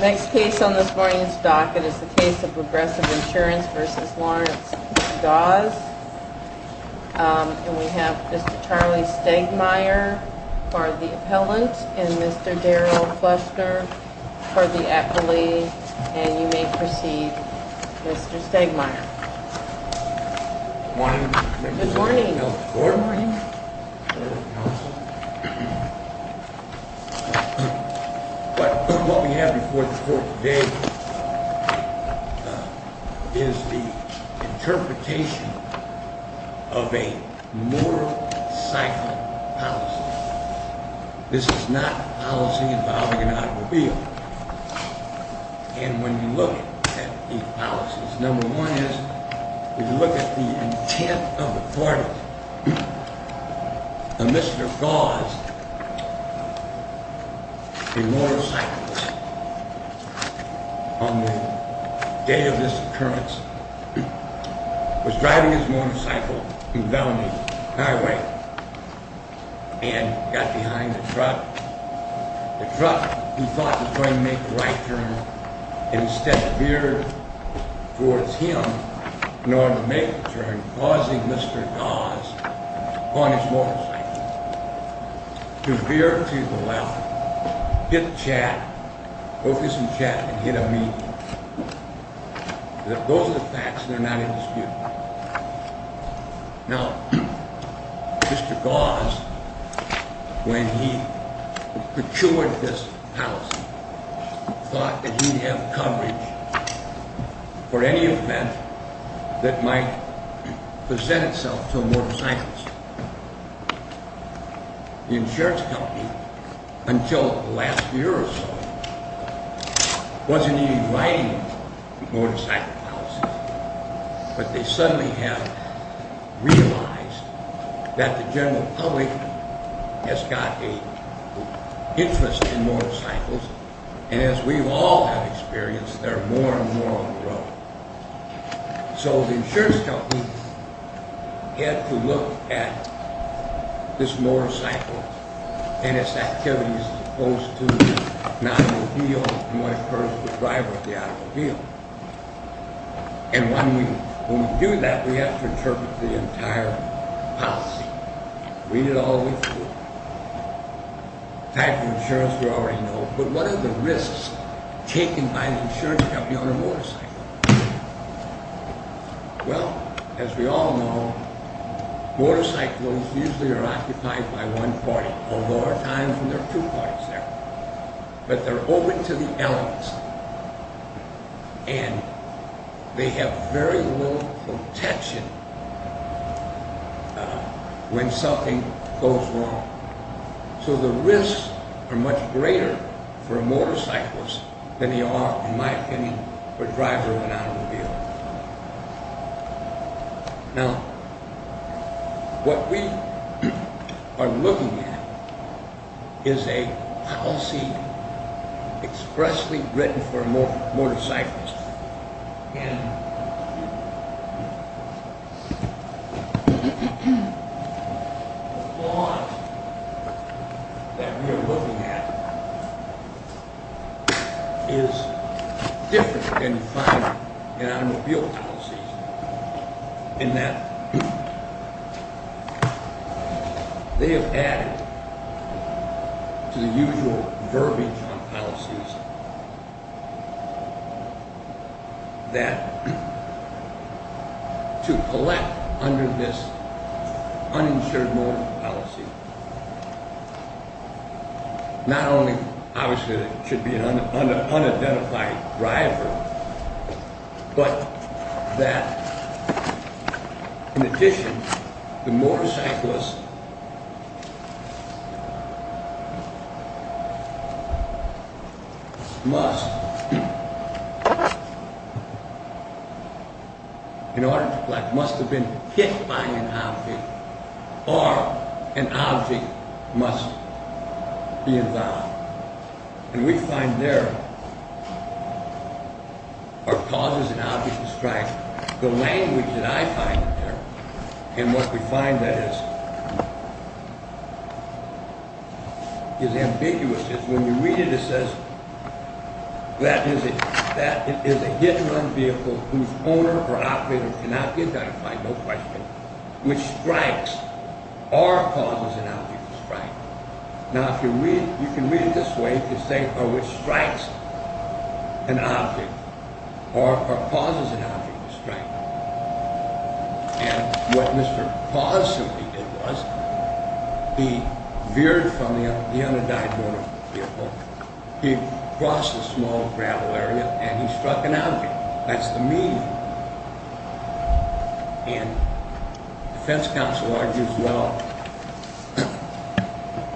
Next case on this morning's docket is the case of Progressive Insurance v. Lawrence v. Gause. And we have Mr. Charlie Stegmaier for the appellant and Mr. Darryl Fluster for the appellee. And you may proceed, Mr. Stegmaier. Good morning. Good morning. Good morning. What we have before the court today is the interpretation of a moral cycle policy. This is not policy involving an automobile. And when you look at these policies, number one is, if you look at the intent of the parties, Mr. Gause, a motorcyclist, on the day of this occurrence, was driving his motorcycle down the highway and got behind the truck, the truck, he thought, was going to make a right turn, and instead veered towards him in order to make the turn, causing Mr. Gause, on his motorcycle, to veer to the left, hit Chad, focus on Chad, and hit a median. Those are the facts, and they're not in dispute. Now, Mr. Gause, when he procured this policy, thought that he'd have coverage for any event that might present itself to a motorcyclist. The insurance company, until the last year or so, wasn't even writing a motorcycle policy, but they suddenly have realized that the general public has got an interest in motorcycles, and as we all have experienced, there are more and more on the road. So the insurance company had to look at this motorcycle and its activities as opposed to an automobile and what occurs to the driver of the automobile. And when we do that, we have to interpret the entire policy, read it all the way through. The type of insurance we already know, but what are the risks taken by an insurance company on a motorcycle? Well, as we all know, motorcycles usually are occupied by one party, although there are times when there are two parties there. But they're open to the elements, and they have very little protection when something goes wrong. So the risks are much greater for a motorcyclist than they are, in my opinion, for a driver of an automobile. Now, what we are looking at is a policy expressly written for a motorcyclist, and the flaw that we are looking at is different than you find in automobile policies in that they have added to the usual verbiage on policies that to collect under this uninsured motor policy not only obviously there should be an unidentified driver, but that in addition, the motorcyclist must, in order to collect, must have been hit by an object or an object must be involved. And we find there are causes and objects to strike. The language that I find there, and what we find there is ambiguous. When you read it, it says that it is a hit-and-run vehicle whose owner or operator cannot be identified, no question, which strikes or causes an object to strike. Now, if you read it this way, it says which strikes an object or causes an object to strike. And what Mr. Paz simply did was he veered from the unidentified vehicle, he crossed a small gravel area, and he struck an object. That's the meaning. And the defense counsel argues well,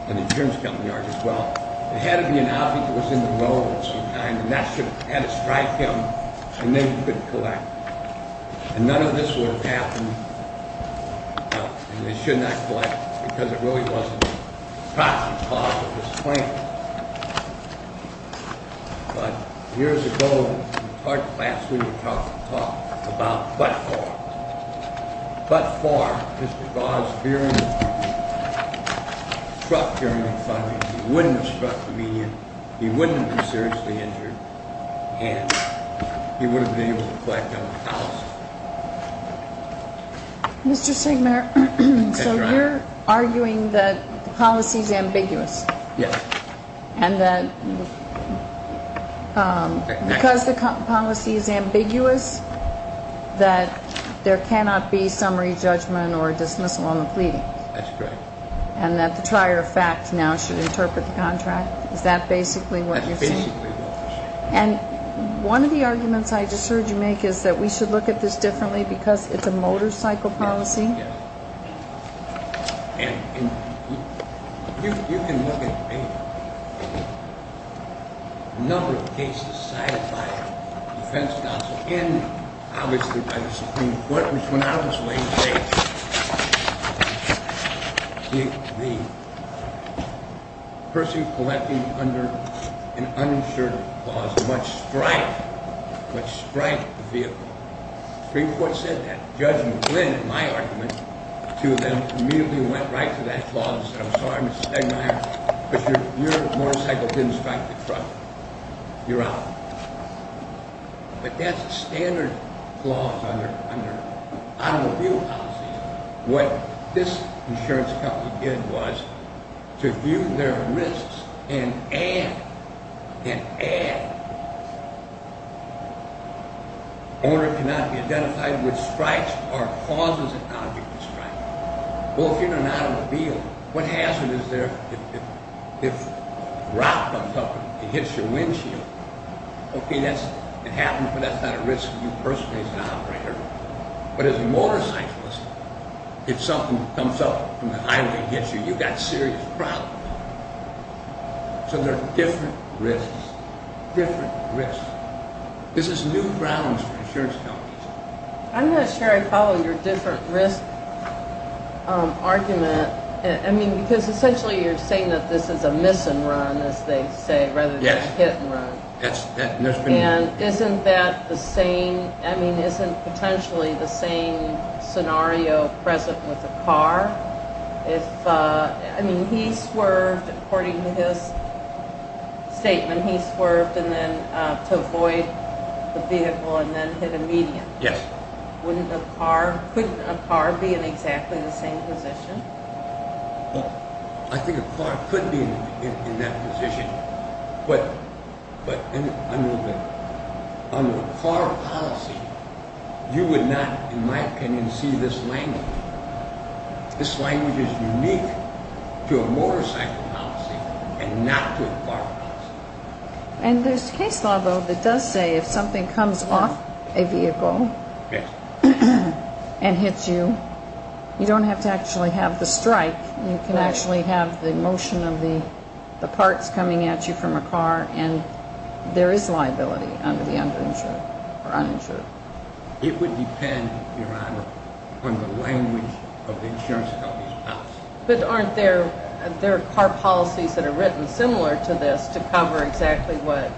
and the insurance company argues well, it had to be an object that was in the road of some kind, and that had to strike him, and then he couldn't collect. And none of this would have happened, and he should not collect, because it really wasn't the cause of his claim. But years ago, we talked, last week we talked about but-for. But-for, Mr. Goddard's veering, struck during the strike, he wouldn't have struck the median, he wouldn't have been seriously injured, and he wouldn't have been able to collect on the policy. Mr. Stegman, so you're arguing that the policy is ambiguous. Yes. And that because the policy is ambiguous, that there cannot be summary judgment or dismissal on the pleading? That's correct. And that the trier of fact now should interpret the contract? Is that basically what you're saying? That's basically what I'm saying. And one of the arguments I just heard you make is that we should look at this differently because it's a motorcycle policy? Yes. And you can look at a number of cases cited by the defense counsel and obviously by the Supreme Court, which when I was weighing the case, the person collecting under an uninsured clause must strike, must strike the vehicle. The Supreme Court said that. Judge McGlynn, in my argument, to them, immediately went right to that clause and said, I'm sorry, Mr. Stegmeyer, but your motorcycle didn't strike the truck. You're out. But that's a standard clause under automobile policy. What this insurance company did was to view their risks and add, and add, owner cannot be identified with strikes or causes an object to strike. Well, if you're in an automobile, what hazard is there if a rock comes up and hits your windshield? Okay, it happens, but that's not a risk to you personally as an operator. But as a motorcyclist, if something comes up from the highway and hits you, you've got serious problems. So there are different risks, different risks. This is new grounds for insurance companies. I'm not sure I follow your different risk argument. I mean, because essentially you're saying that this is a miss and run, as they say, rather than a hit and run. And isn't that the same, I mean, isn't potentially the same scenario present with a car? If, I mean, he swerved, according to his statement, he swerved to avoid the vehicle and then hit a median. Yes. Wouldn't a car, couldn't a car be in exactly the same position? Well, I think a car could be in that position. But under a car policy, you would not, in my opinion, see this language. This language is unique to a motorcycle policy and not to a car policy. And there's case law, though, that does say if something comes off a vehicle and hits you, you don't have to actually have the strike. You can actually have the motion of the parts coming at you from a car, and there is liability under the underinsured or uninsured. It would depend, Your Honor, on the language of the insurance company's policy. But aren't there car policies that are written similar to this to cover exactly what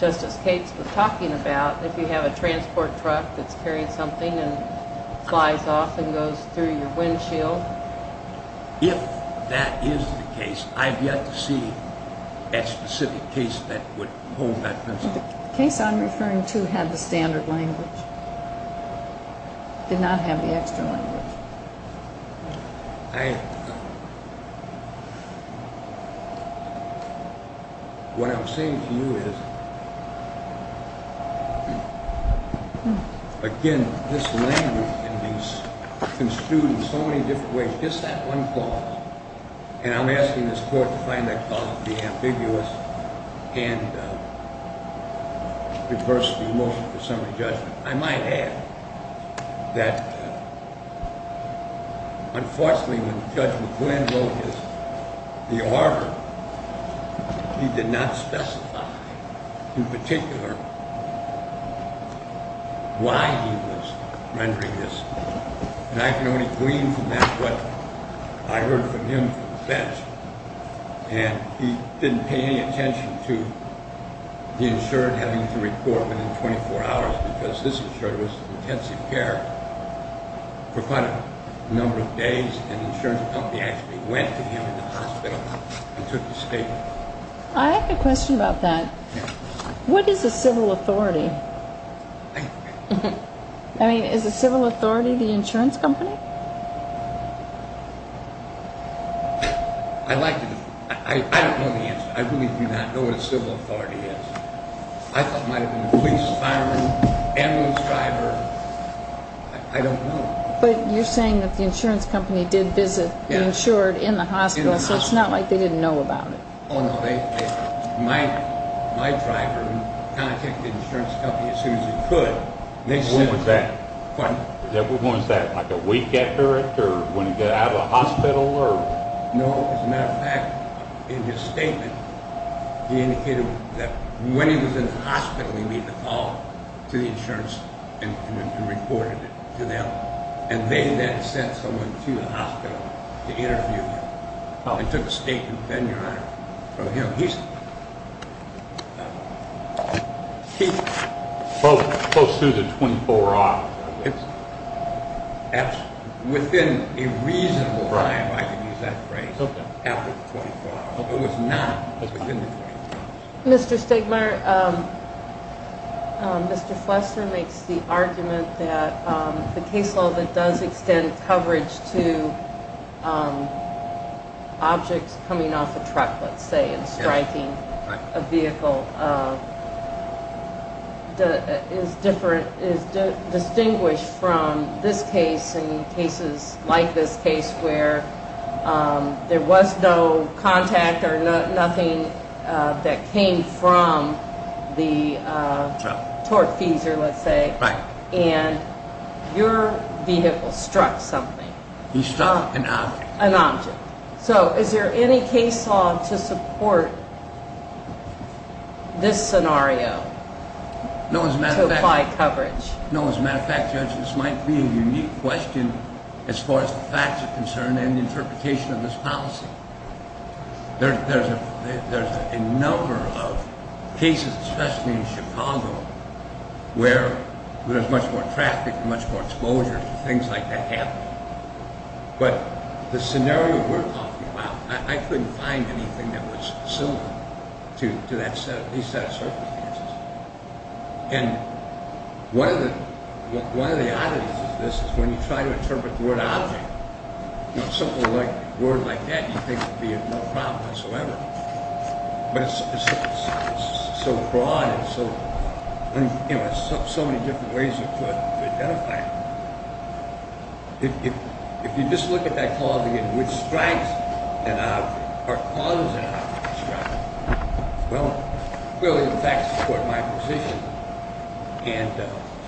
Justice Cates was talking about, if you have a transport truck that's carrying something and flies off and goes through your windshield? Well, if that is the case, I've yet to see a specific case that would hold that principle. The case I'm referring to had the standard language, did not have the extra language. What I'm saying to you is, again, this language can be construed in so many different ways. And I'm asking this Court to find that clause to be ambiguous and reverse the motion for summary judgment. I might add that, unfortunately, when Judge McQuinn wrote the order, he did not specify in particular why he was rendering this. And I can only glean from that what I heard from him from the bench. And he didn't pay any attention to the insured having to report within 24 hours, because this insured was in intensive care for quite a number of days, and the insurance company actually went to him in the hospital and took the statement. I have a question about that. What is a civil authority? I mean, is a civil authority the insurance company? I'd like to know. I don't know the answer. I really do not know what a civil authority is. I thought it might have been a police, fireman, ambulance driver. I don't know. But you're saying that the insurance company did visit the insured in the hospital, so it's not like they didn't know about it. Oh, no. My driver contacted the insurance company as soon as he could. When was that? Pardon? Was that like a week after it or when he got out of the hospital? No. As a matter of fact, in his statement, he indicated that when he was in the hospital, he made the call to the insurance and reported it to them. And they then sent someone to the hospital to interview him. Well, he took a statement then, Your Honor, from him. He spoke close to the 24 hours. Within a reasonable time, I could use that phrase, after the 24 hours. It was not within the 24 hours. Mr. Stegmaier, Mr. Flester makes the argument that the case law that does extend coverage to objects coming off a truck, let's say, and striking a vehicle is different, is distinguished from this case and cases like this case where there was no contact or nothing that came from the torque feeser, let's say. Right. And your vehicle struck something. He struck an object. An object. So is there any case law to support this scenario to apply coverage? No. As a matter of fact, Judge, this might be a unique question as far as the facts are concerned and the interpretation of this policy. There's a number of cases, especially in Chicago, where there's much more traffic and much more exposure to things like that happening. But the scenario we're talking about, I couldn't find anything that was similar to that set of circumstances. And one of the oddities of this is when you try to interpret the word object, something like a word like that you think would be no problem whatsoever. But it's so broad and so many different ways you could identify it. If you just look at that clause again, which strikes an object or causes an object to strike, it will, in fact, support my position.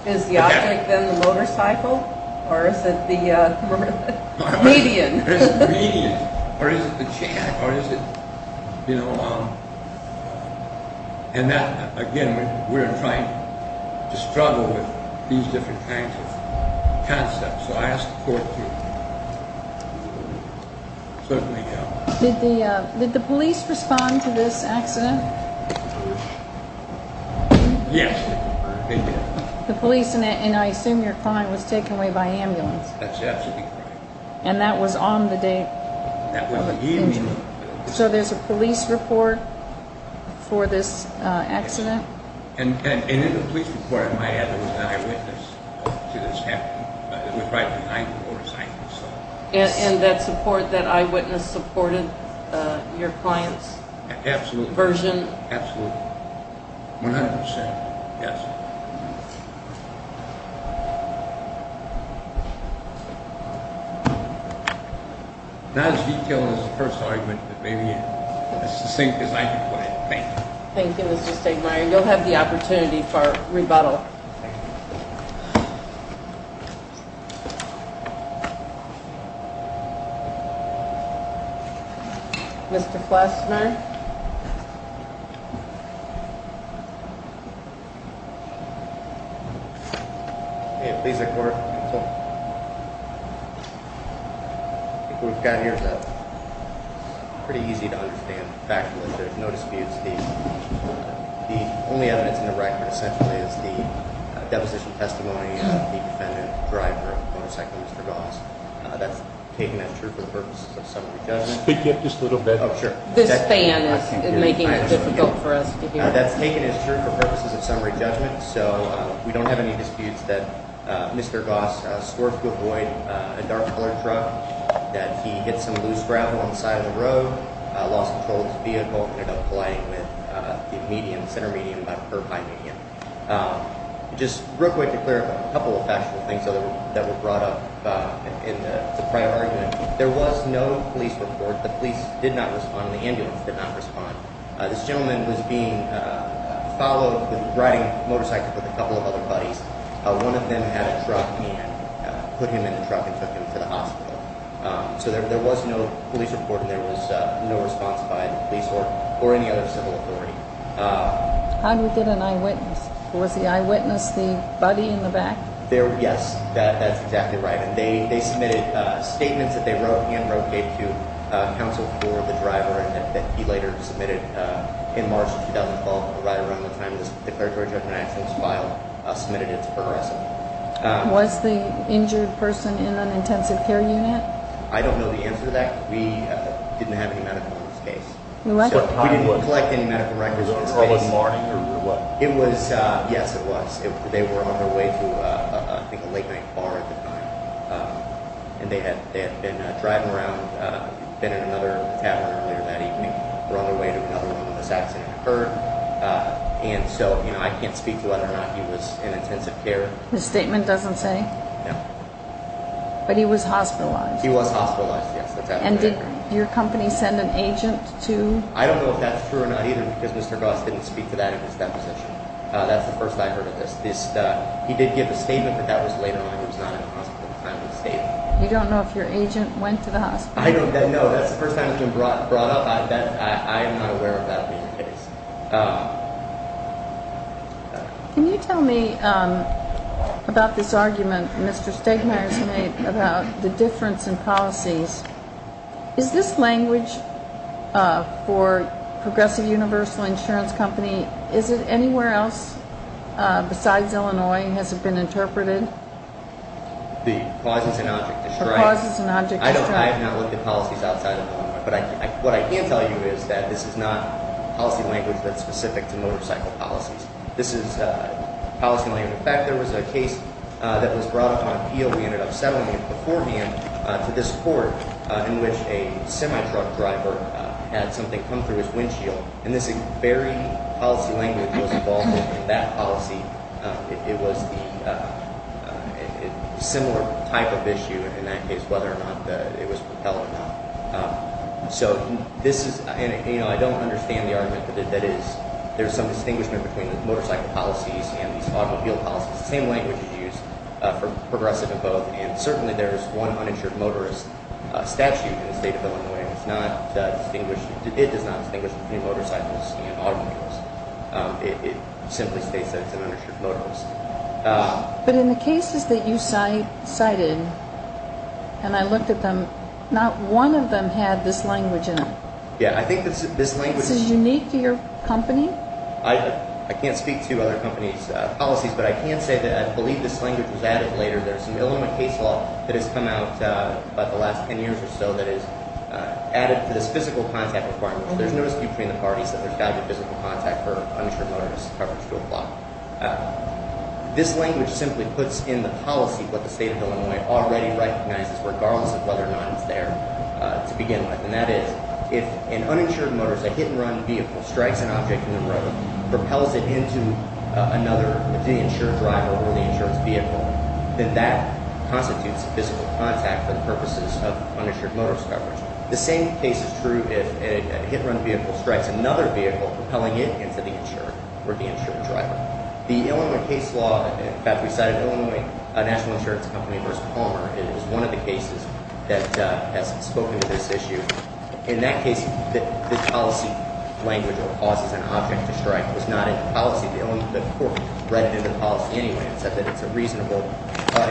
Is the object then the motorcycle? Or is it the median? It's the median. Or is it the chair? Again, we're trying to struggle with these different kinds of concepts. So I ask the court to certainly help. Did the police respond to this accident? Yes, they did. The police, and I assume your client was taken away by ambulance? That's absolutely correct. And that was on the day? That was the evening of the incident. So there's a police report for this accident? And in the police report, it might have been an eyewitness to this happening. But it was right behind the motorcycle. And that support, that eyewitness supported your client's version? Absolutely. One hundred percent, yes. Not as detailed as the first argument, but maybe as succinct as I can put it. Thank you. Thank you, Mr. Stegmaier. You'll have the opportunity for rebuttal. Thank you. Mr. Flassner? Please let the court consult. I think what we've got here is pretty easy to understand. Factually, there's no disputes. The only evidence in the record, essentially, is the deposition testimony of the defendant, the driver of the motorcycle, Mr. Goss. That's taken as true for purposes of summary judgment. Speak up just a little bit. Oh, sure. This fan is making it difficult for us to hear. That's taken as true for purposes of summary judgment. So we don't have any disputes that Mr. Goss swore to avoid a dark-colored truck, that he hit some loose gravel on the side of the road, lost control of his vehicle, and ended up colliding with the median, the center median by a curb height median. Just real quick to clear up a couple of factual things that were brought up in the prior argument. There was no police report. The police did not respond. The ambulance did not respond. This gentleman was being followed with a riding motorcycle with a couple of other buddies. One of them had a truck and put him in the truck and took him to the hospital. So there was no police report, and there was no response by the police or any other civil authority. How did we get an eyewitness? Was the eyewitness the buddy in the back? Yes, that's exactly right. And they submitted statements that they wrote and wrote to counsel for the driver that he later submitted in March of 2012, right around the time this declaratory judgment action was filed, submitted its progress. Was the injured person in an intensive care unit? I don't know the answer to that. We didn't have any medical records. We didn't collect any medical records in this case. Was it early morning or what? Yes, it was. They were on their way to, I think, a late-night bar at the time, and they had been driving around, been in another tavern earlier that evening, were on their way to another one when this accident occurred, and so I can't speak to whether or not he was in intensive care. The statement doesn't say? No. But he was hospitalized? He was hospitalized, yes. And did your company send an agent to? I don't know if that's true or not either, because Mr. Goss didn't speak to that in his deposition. That's the first I've heard of this. He did give a statement that that was later on. He was not in the hospital at the time of the statement. You don't know if your agent went to the hospital? No, that's the first time it's been brought up. I am not aware of that being the case. Can you tell me about this argument Mr. Stegmayer has made about the difference in policies? Is this language for Progressive Universal Insurance Company, is it anywhere else besides Illinois? Has it been interpreted? The clauses and object described? The clauses and object described. I have not looked at policies outside of Illinois, but what I can tell you is that this is not policy language that's specific to motorcycle policies. This is policy in layman's terms. In fact, there was a case that was brought up on appeal. We ended up settling it beforehand to this court in which a semi-truck driver had something come through his windshield. And this very policy language was involved in that policy. It was a similar type of issue, and that is whether or not it was propelled or not. I don't understand the argument that there is some distinguishment between motorcycle policies and automobile policies. The same language is used for progressive in both, and certainly there is one uninsured motorist statute in the state of Illinois and it does not distinguish between motorcycles and automobiles. It simply states that it's an uninsured motorist. But in the cases that you cited, and I looked at them, not one of them had this language in them. Yeah, I think this language is unique. I can't speak to other companies' policies, but I can say that I believe this language was added later. There's an Illinois case law that has come out about the last 10 years or so that has added to this physical contact requirement. There's no dispute between the parties that there's got to be physical contact for uninsured motorist coverage to apply. This language simply puts in the policy what the state of Illinois already recognizes regardless of whether or not it's there to begin with, and that is if an uninsured motorist, a hit-and-run vehicle, strikes an object in the road, propels it into another, the insured driver or the insured vehicle, then that constitutes physical contact for the purposes of uninsured motorist coverage. The same case is true if a hit-and-run vehicle strikes another vehicle, propelling it into the insured or the insured driver. The Illinois case law that we cited, Illinois National Insurance Company v. Palmer, is one of the cases that has spoken to this issue. In that case, the policy language of causes an object to strike was not in the policy. The court read through the policy anyway and said that it's a reasonable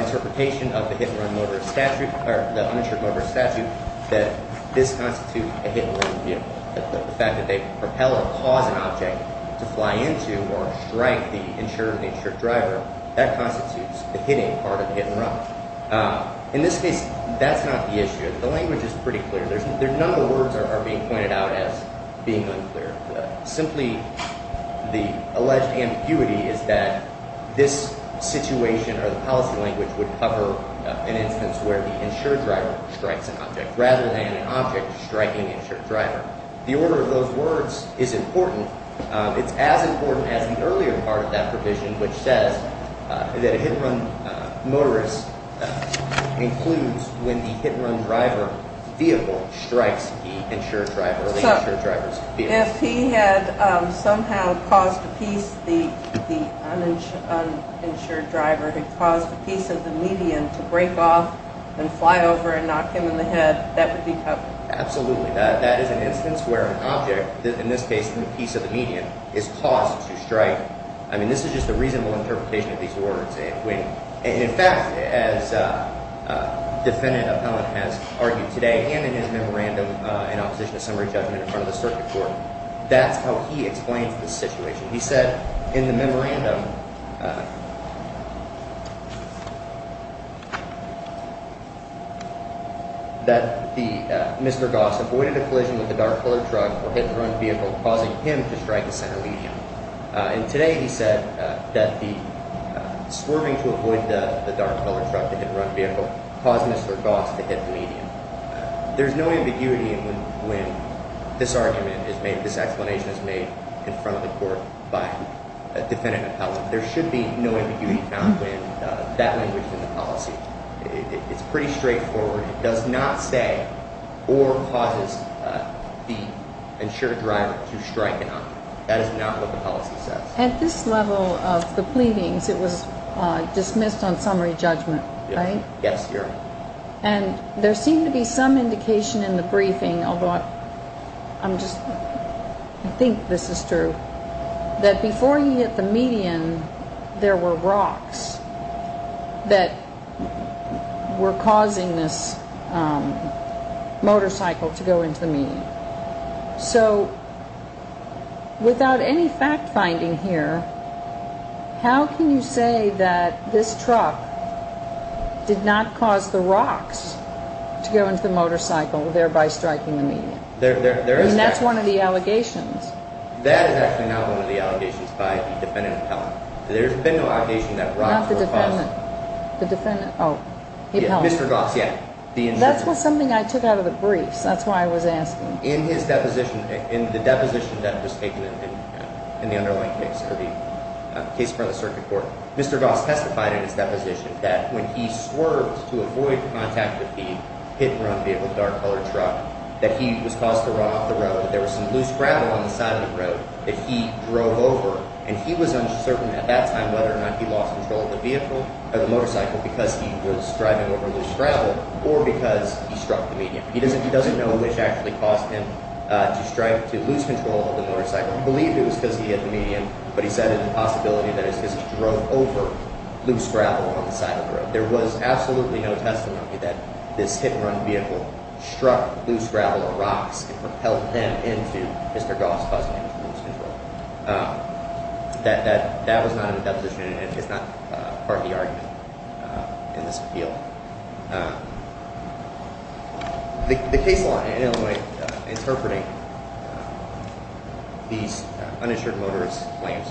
interpretation of the hit-and-run motorist statute or the uninsured motorist statute that this constitutes a hit-and-run vehicle. The fact that they propel or cause an object to fly into or strike the insured or the insured driver, that constitutes the hitting part of the hit-and-run. In this case, that's not the issue. The language is pretty clear. None of the words are being pointed out as being unclear. Simply, the alleged ambiguity is that this situation or the policy language would cover an instance where the insured driver strikes an object rather than an object striking the insured driver. The order of those words is important. It's as important as the earlier part of that provision, which says that a hit-and-run motorist includes when the hit-and-run driver vehicle strikes the insured driver or the insured driver's vehicle. If he had somehow caused a piece, the uninsured driver, had caused a piece of the median to break off and fly over and knock him in the head, that would be covered. Absolutely. That is an instance where an object, in this case the piece of the median, is caused to strike. This is just a reasonable interpretation of these words. In fact, as Defendant Appellant has argued today and in his memorandum in opposition to summary judgment in front of the circuit court, that's how he explains the situation. He said in the memorandum that Mr. Goss avoided a collision with a dark-colored truck or hit-and-run vehicle, causing him to strike the center median. And today he said that the swerving to avoid the dark-colored truck, the hit-and-run vehicle, caused Mr. Goss to hit the median. There's no ambiguity in when this argument is made, this explanation is made in front of the court by Defendant Appellant. There should be no ambiguity found when that language is in the policy. It's pretty straightforward. It does not say or cause the insured driver to strike an object. That is not what the policy says. At this level of the pleadings, it was dismissed on summary judgment, right? Yes, Your Honor. And there seemed to be some indication in the briefing, although I think this is true, that before he hit the median, there were rocks that were causing this motorcycle to go into the median. So without any fact-finding here, how can you say that this truck did not cause the rocks to go into the motorcycle, thereby striking the median? I mean, that's one of the allegations. That is actually not one of the allegations by the Defendant Appellant. There's been no allegation that rocks were causing it. Not the defendant. The defendant. Oh. Mr. Goss, yeah. The insured driver. This was something I took out of the briefs. That's why I was asking. In his deposition, in the deposition that was taken in the underlying case, the case before the circuit court, Mr. Goss testified in his deposition that when he swerved to avoid contact with the hit-and-run vehicle, the dark-colored truck, that he was caused to run off the road. There was some loose gravel on the side of the road that he drove over, and he was uncertain at that time whether or not he lost control of the vehicle, of the motorcycle, because he was driving over loose gravel or because he struck the median. He doesn't know which actually caused him to strike, to lose control of the motorcycle. He believed it was because he hit the median, but he said it was a possibility that it was because he drove over loose gravel on the side of the road. There was absolutely no testimony that this hit-and-run vehicle struck loose gravel or rocks and propelled him into Mr. Goss causing him to lose control. That was not in the deposition, and it is not part of the argument in this appeal. The case law in Illinois interpreting these uninsured motorist claims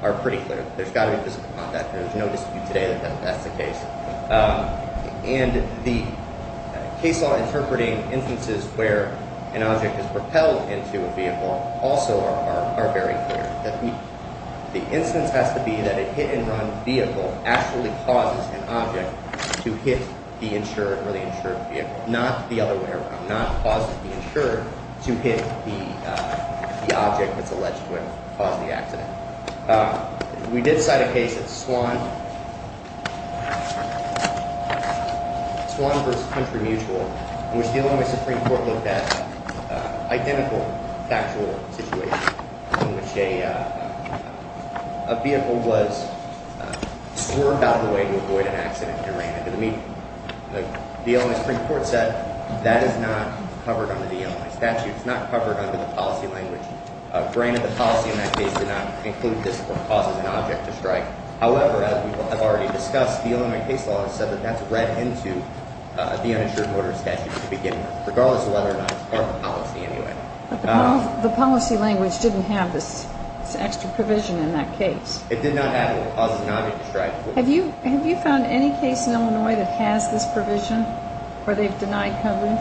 are pretty clear. There's got to be physical contact. There's no dispute today that that's the case. And the case law interpreting instances where an object is propelled into a vehicle also are very clear. The instance has to be that a hit-and-run vehicle actually causes an object to hit the insured or the insured vehicle, not the other way around, not cause the insured to hit the object that's alleged to have caused the accident. We did cite a case at Swan versus Country Mutual in which the Illinois Supreme Court looked at identical factual situations in which a vehicle was swerved out of the way to avoid an accident and ran into the vehicle. The Illinois Supreme Court said that is not covered under the Illinois statute. It's not covered under the policy language. Granted, the policy in that case did not include this or cause an object to strike. However, as we have already discussed, the Illinois case law has said that that's read into the uninsured motor statute to begin with, regardless of whether or not it's part of the policy anyway. But the policy language didn't have this extra provision in that case. It did not have it or cause an object to strike. Have you found any case in Illinois that has this provision or they've denied coverage?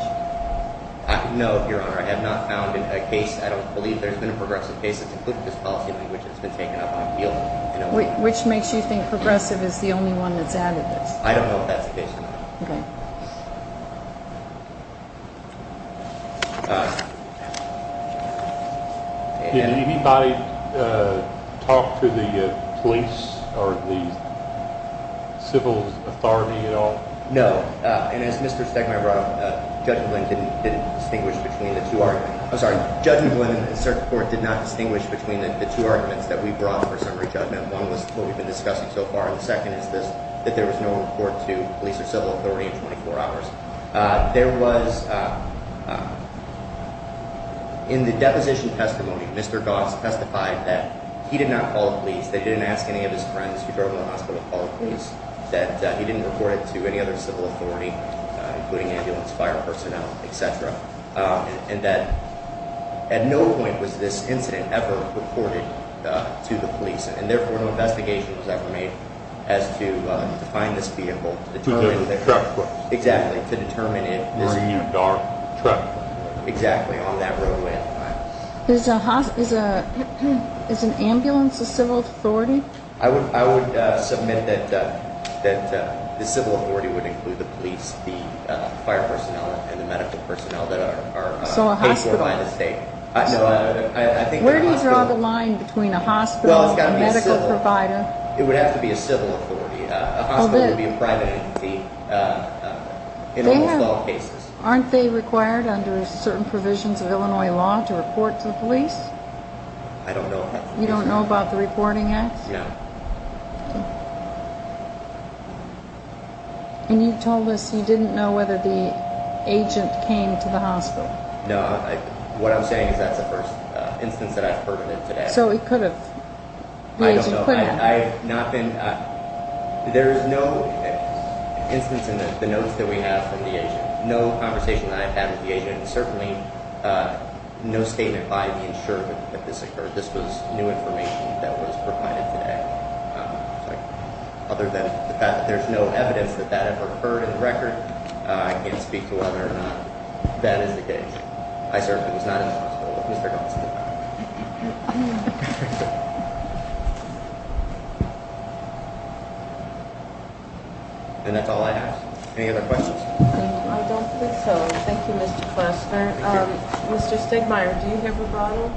No, Your Honor. I have not found a case. I don't believe there's been a progressive case that's included this policy language that's been taken up on appeal in Illinois. Which makes you think progressive is the only one that's added this? I don't know if that's the case or not. Okay. Did anybody talk to the police or the civil authority at all? No. And as Mr. Stegmaier brought up, Judge McGlynn didn't distinguish between the two arguments. I'm sorry. Judge McGlynn and the circuit court did not distinguish between the two arguments that we brought for summary judgment. One was what we've been discussing so far, and the second is that there was no report to police or civil authority in 24 hours. There was, in the deposition testimony, Mr. Goss testified that he did not call the police, that he didn't ask any of his friends who drove him to the hospital to call the police, that he didn't report it to any other civil authority, including ambulance, fire personnel, et cetera, and that at no point was this incident ever reported to the police. And therefore, no investigation was ever made as to find this vehicle. To determine the truck. Exactly. To determine if this vehicle. Or a new dark truck. Exactly. On that roadway at the time. Is an ambulance a civil authority? I would submit that the civil authority would include the police, the fire personnel, and the medical personnel that are paid for by the state. So a hospital. Where do you draw the line between a hospital and a medical provider? It would have to be a civil authority. A hospital would be a private entity in almost all cases. Aren't they required under certain provisions of Illinois law to report to the police? I don't know. You don't know about the reporting acts? No. What I'm saying is that's the first instance that I've heard of it today. So it could have. I don't know. The agent could have. I've not been. There is no instance in the notes that we have from the agent. No conversation that I've had with the agent, and certainly no statement by the insurer that this occurred. This was new information that was provided today. Other than the fact that there's no evidence that that ever occurred in the record, I can't speak to whether or not that is the case. I certainly was not in the hospital with Mr. Johnson. And that's all I have. Any other questions? I don't think so. Thank you, Mr. Klostner. Mr. Stigmeyer, do you have a bottle?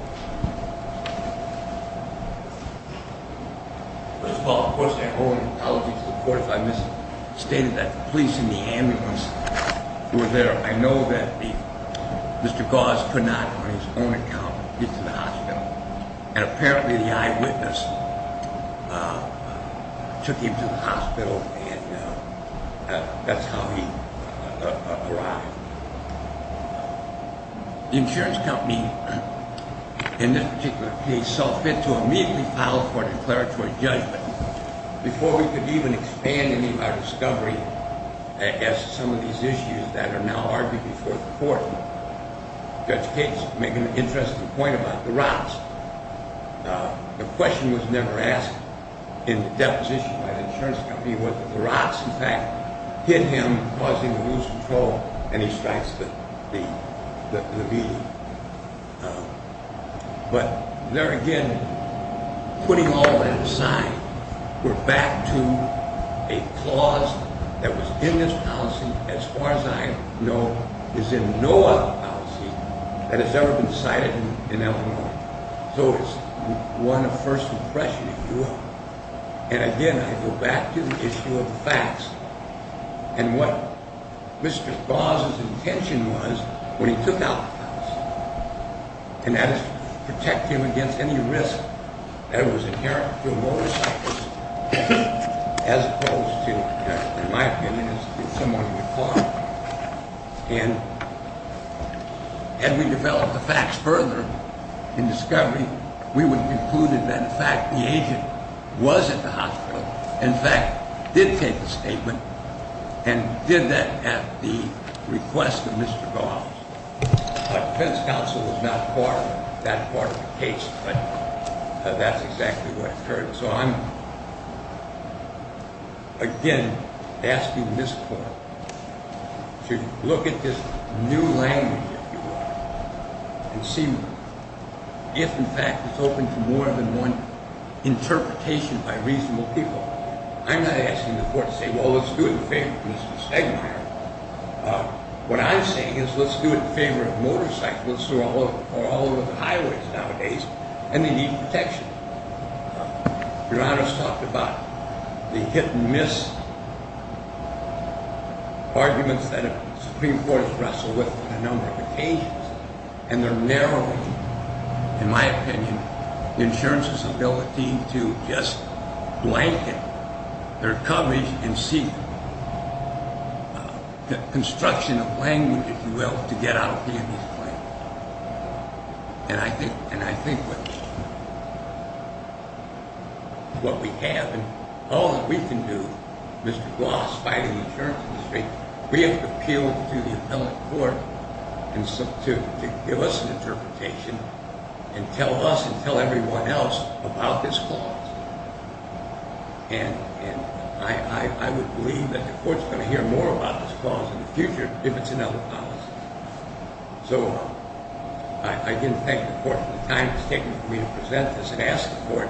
First of all, of course, I owe an apology to the court if I misstated that the police and the ambulance were there. I know that Mr. Goss could not, on his own account, get to the hospital. And apparently the eyewitness took him to the hospital, and that's how he arrived. The insurance company, in this particular case, saw fit to immediately file for a declaratory judgment. Before we could even expand any of our discovery as to some of these issues that are now argued before the court, Judge Cates made an interesting point about the rocks. The question was never asked in the deposition by the insurance company, but the rocks, in fact, hit him, causing him to lose control, and he strikes the beat. But there again, putting all that aside, we're back to a clause that was in this policy, as far as I know, is in no other policy that has ever been cited in Illinois. So it's one of first impression in Europe. And again, I go back to the issue of the facts and what Mr. Goss' intention was when he took out the facts, and that is to protect him against any risk that was inherent to a motorcyclist, as opposed to, in my opinion, someone with a car. And had we developed the facts further in discovery, we would conclude that, in fact, the agent was at the hospital, in fact, did take a statement, and did that at the request of Mr. Goss. But defense counsel was not part of that part of the case, but that's exactly what occurred. So I'm, again, asking this court to look at this new language, if you will, and see if, in fact, it's open to more than one interpretation by reasonable people. I'm not asking the court to say, well, let's do it in favor of Mr. Stegmaier. What I'm saying is let's do it in favor of motorcyclists who are all over the highways nowadays, and they need protection. Your Honor's talked about the hit-and-miss arguments that the Supreme Court has wrestled with on a number of occasions, and they're narrowing, in my opinion, the insurance's ability to just blanket their coverage and see the construction of language, if you will, to get out a hit-and-miss claim. And I think what we have and all that we can do, Mr. Goss fighting the insurance industry, we have to appeal to the appellate court to give us an interpretation and tell us and tell everyone else about this clause. And I would believe that the court's going to hear more about this clause in the future if it's in other policies. So I again thank the court for the time it's taken for me to present this and ask the court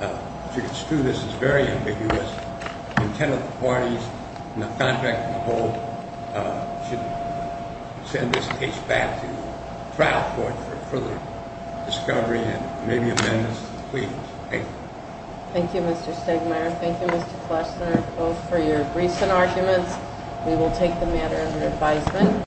to construe this as very ambiguous, intent of the parties, and the contract in the whole should send this case back to the trial court for further discovery and maybe amendments. Thank you. Thank you, Mr. Stegmaier. Thank you, Mr. Klessler, both for your briefs and arguments. We will take the matter under advisement.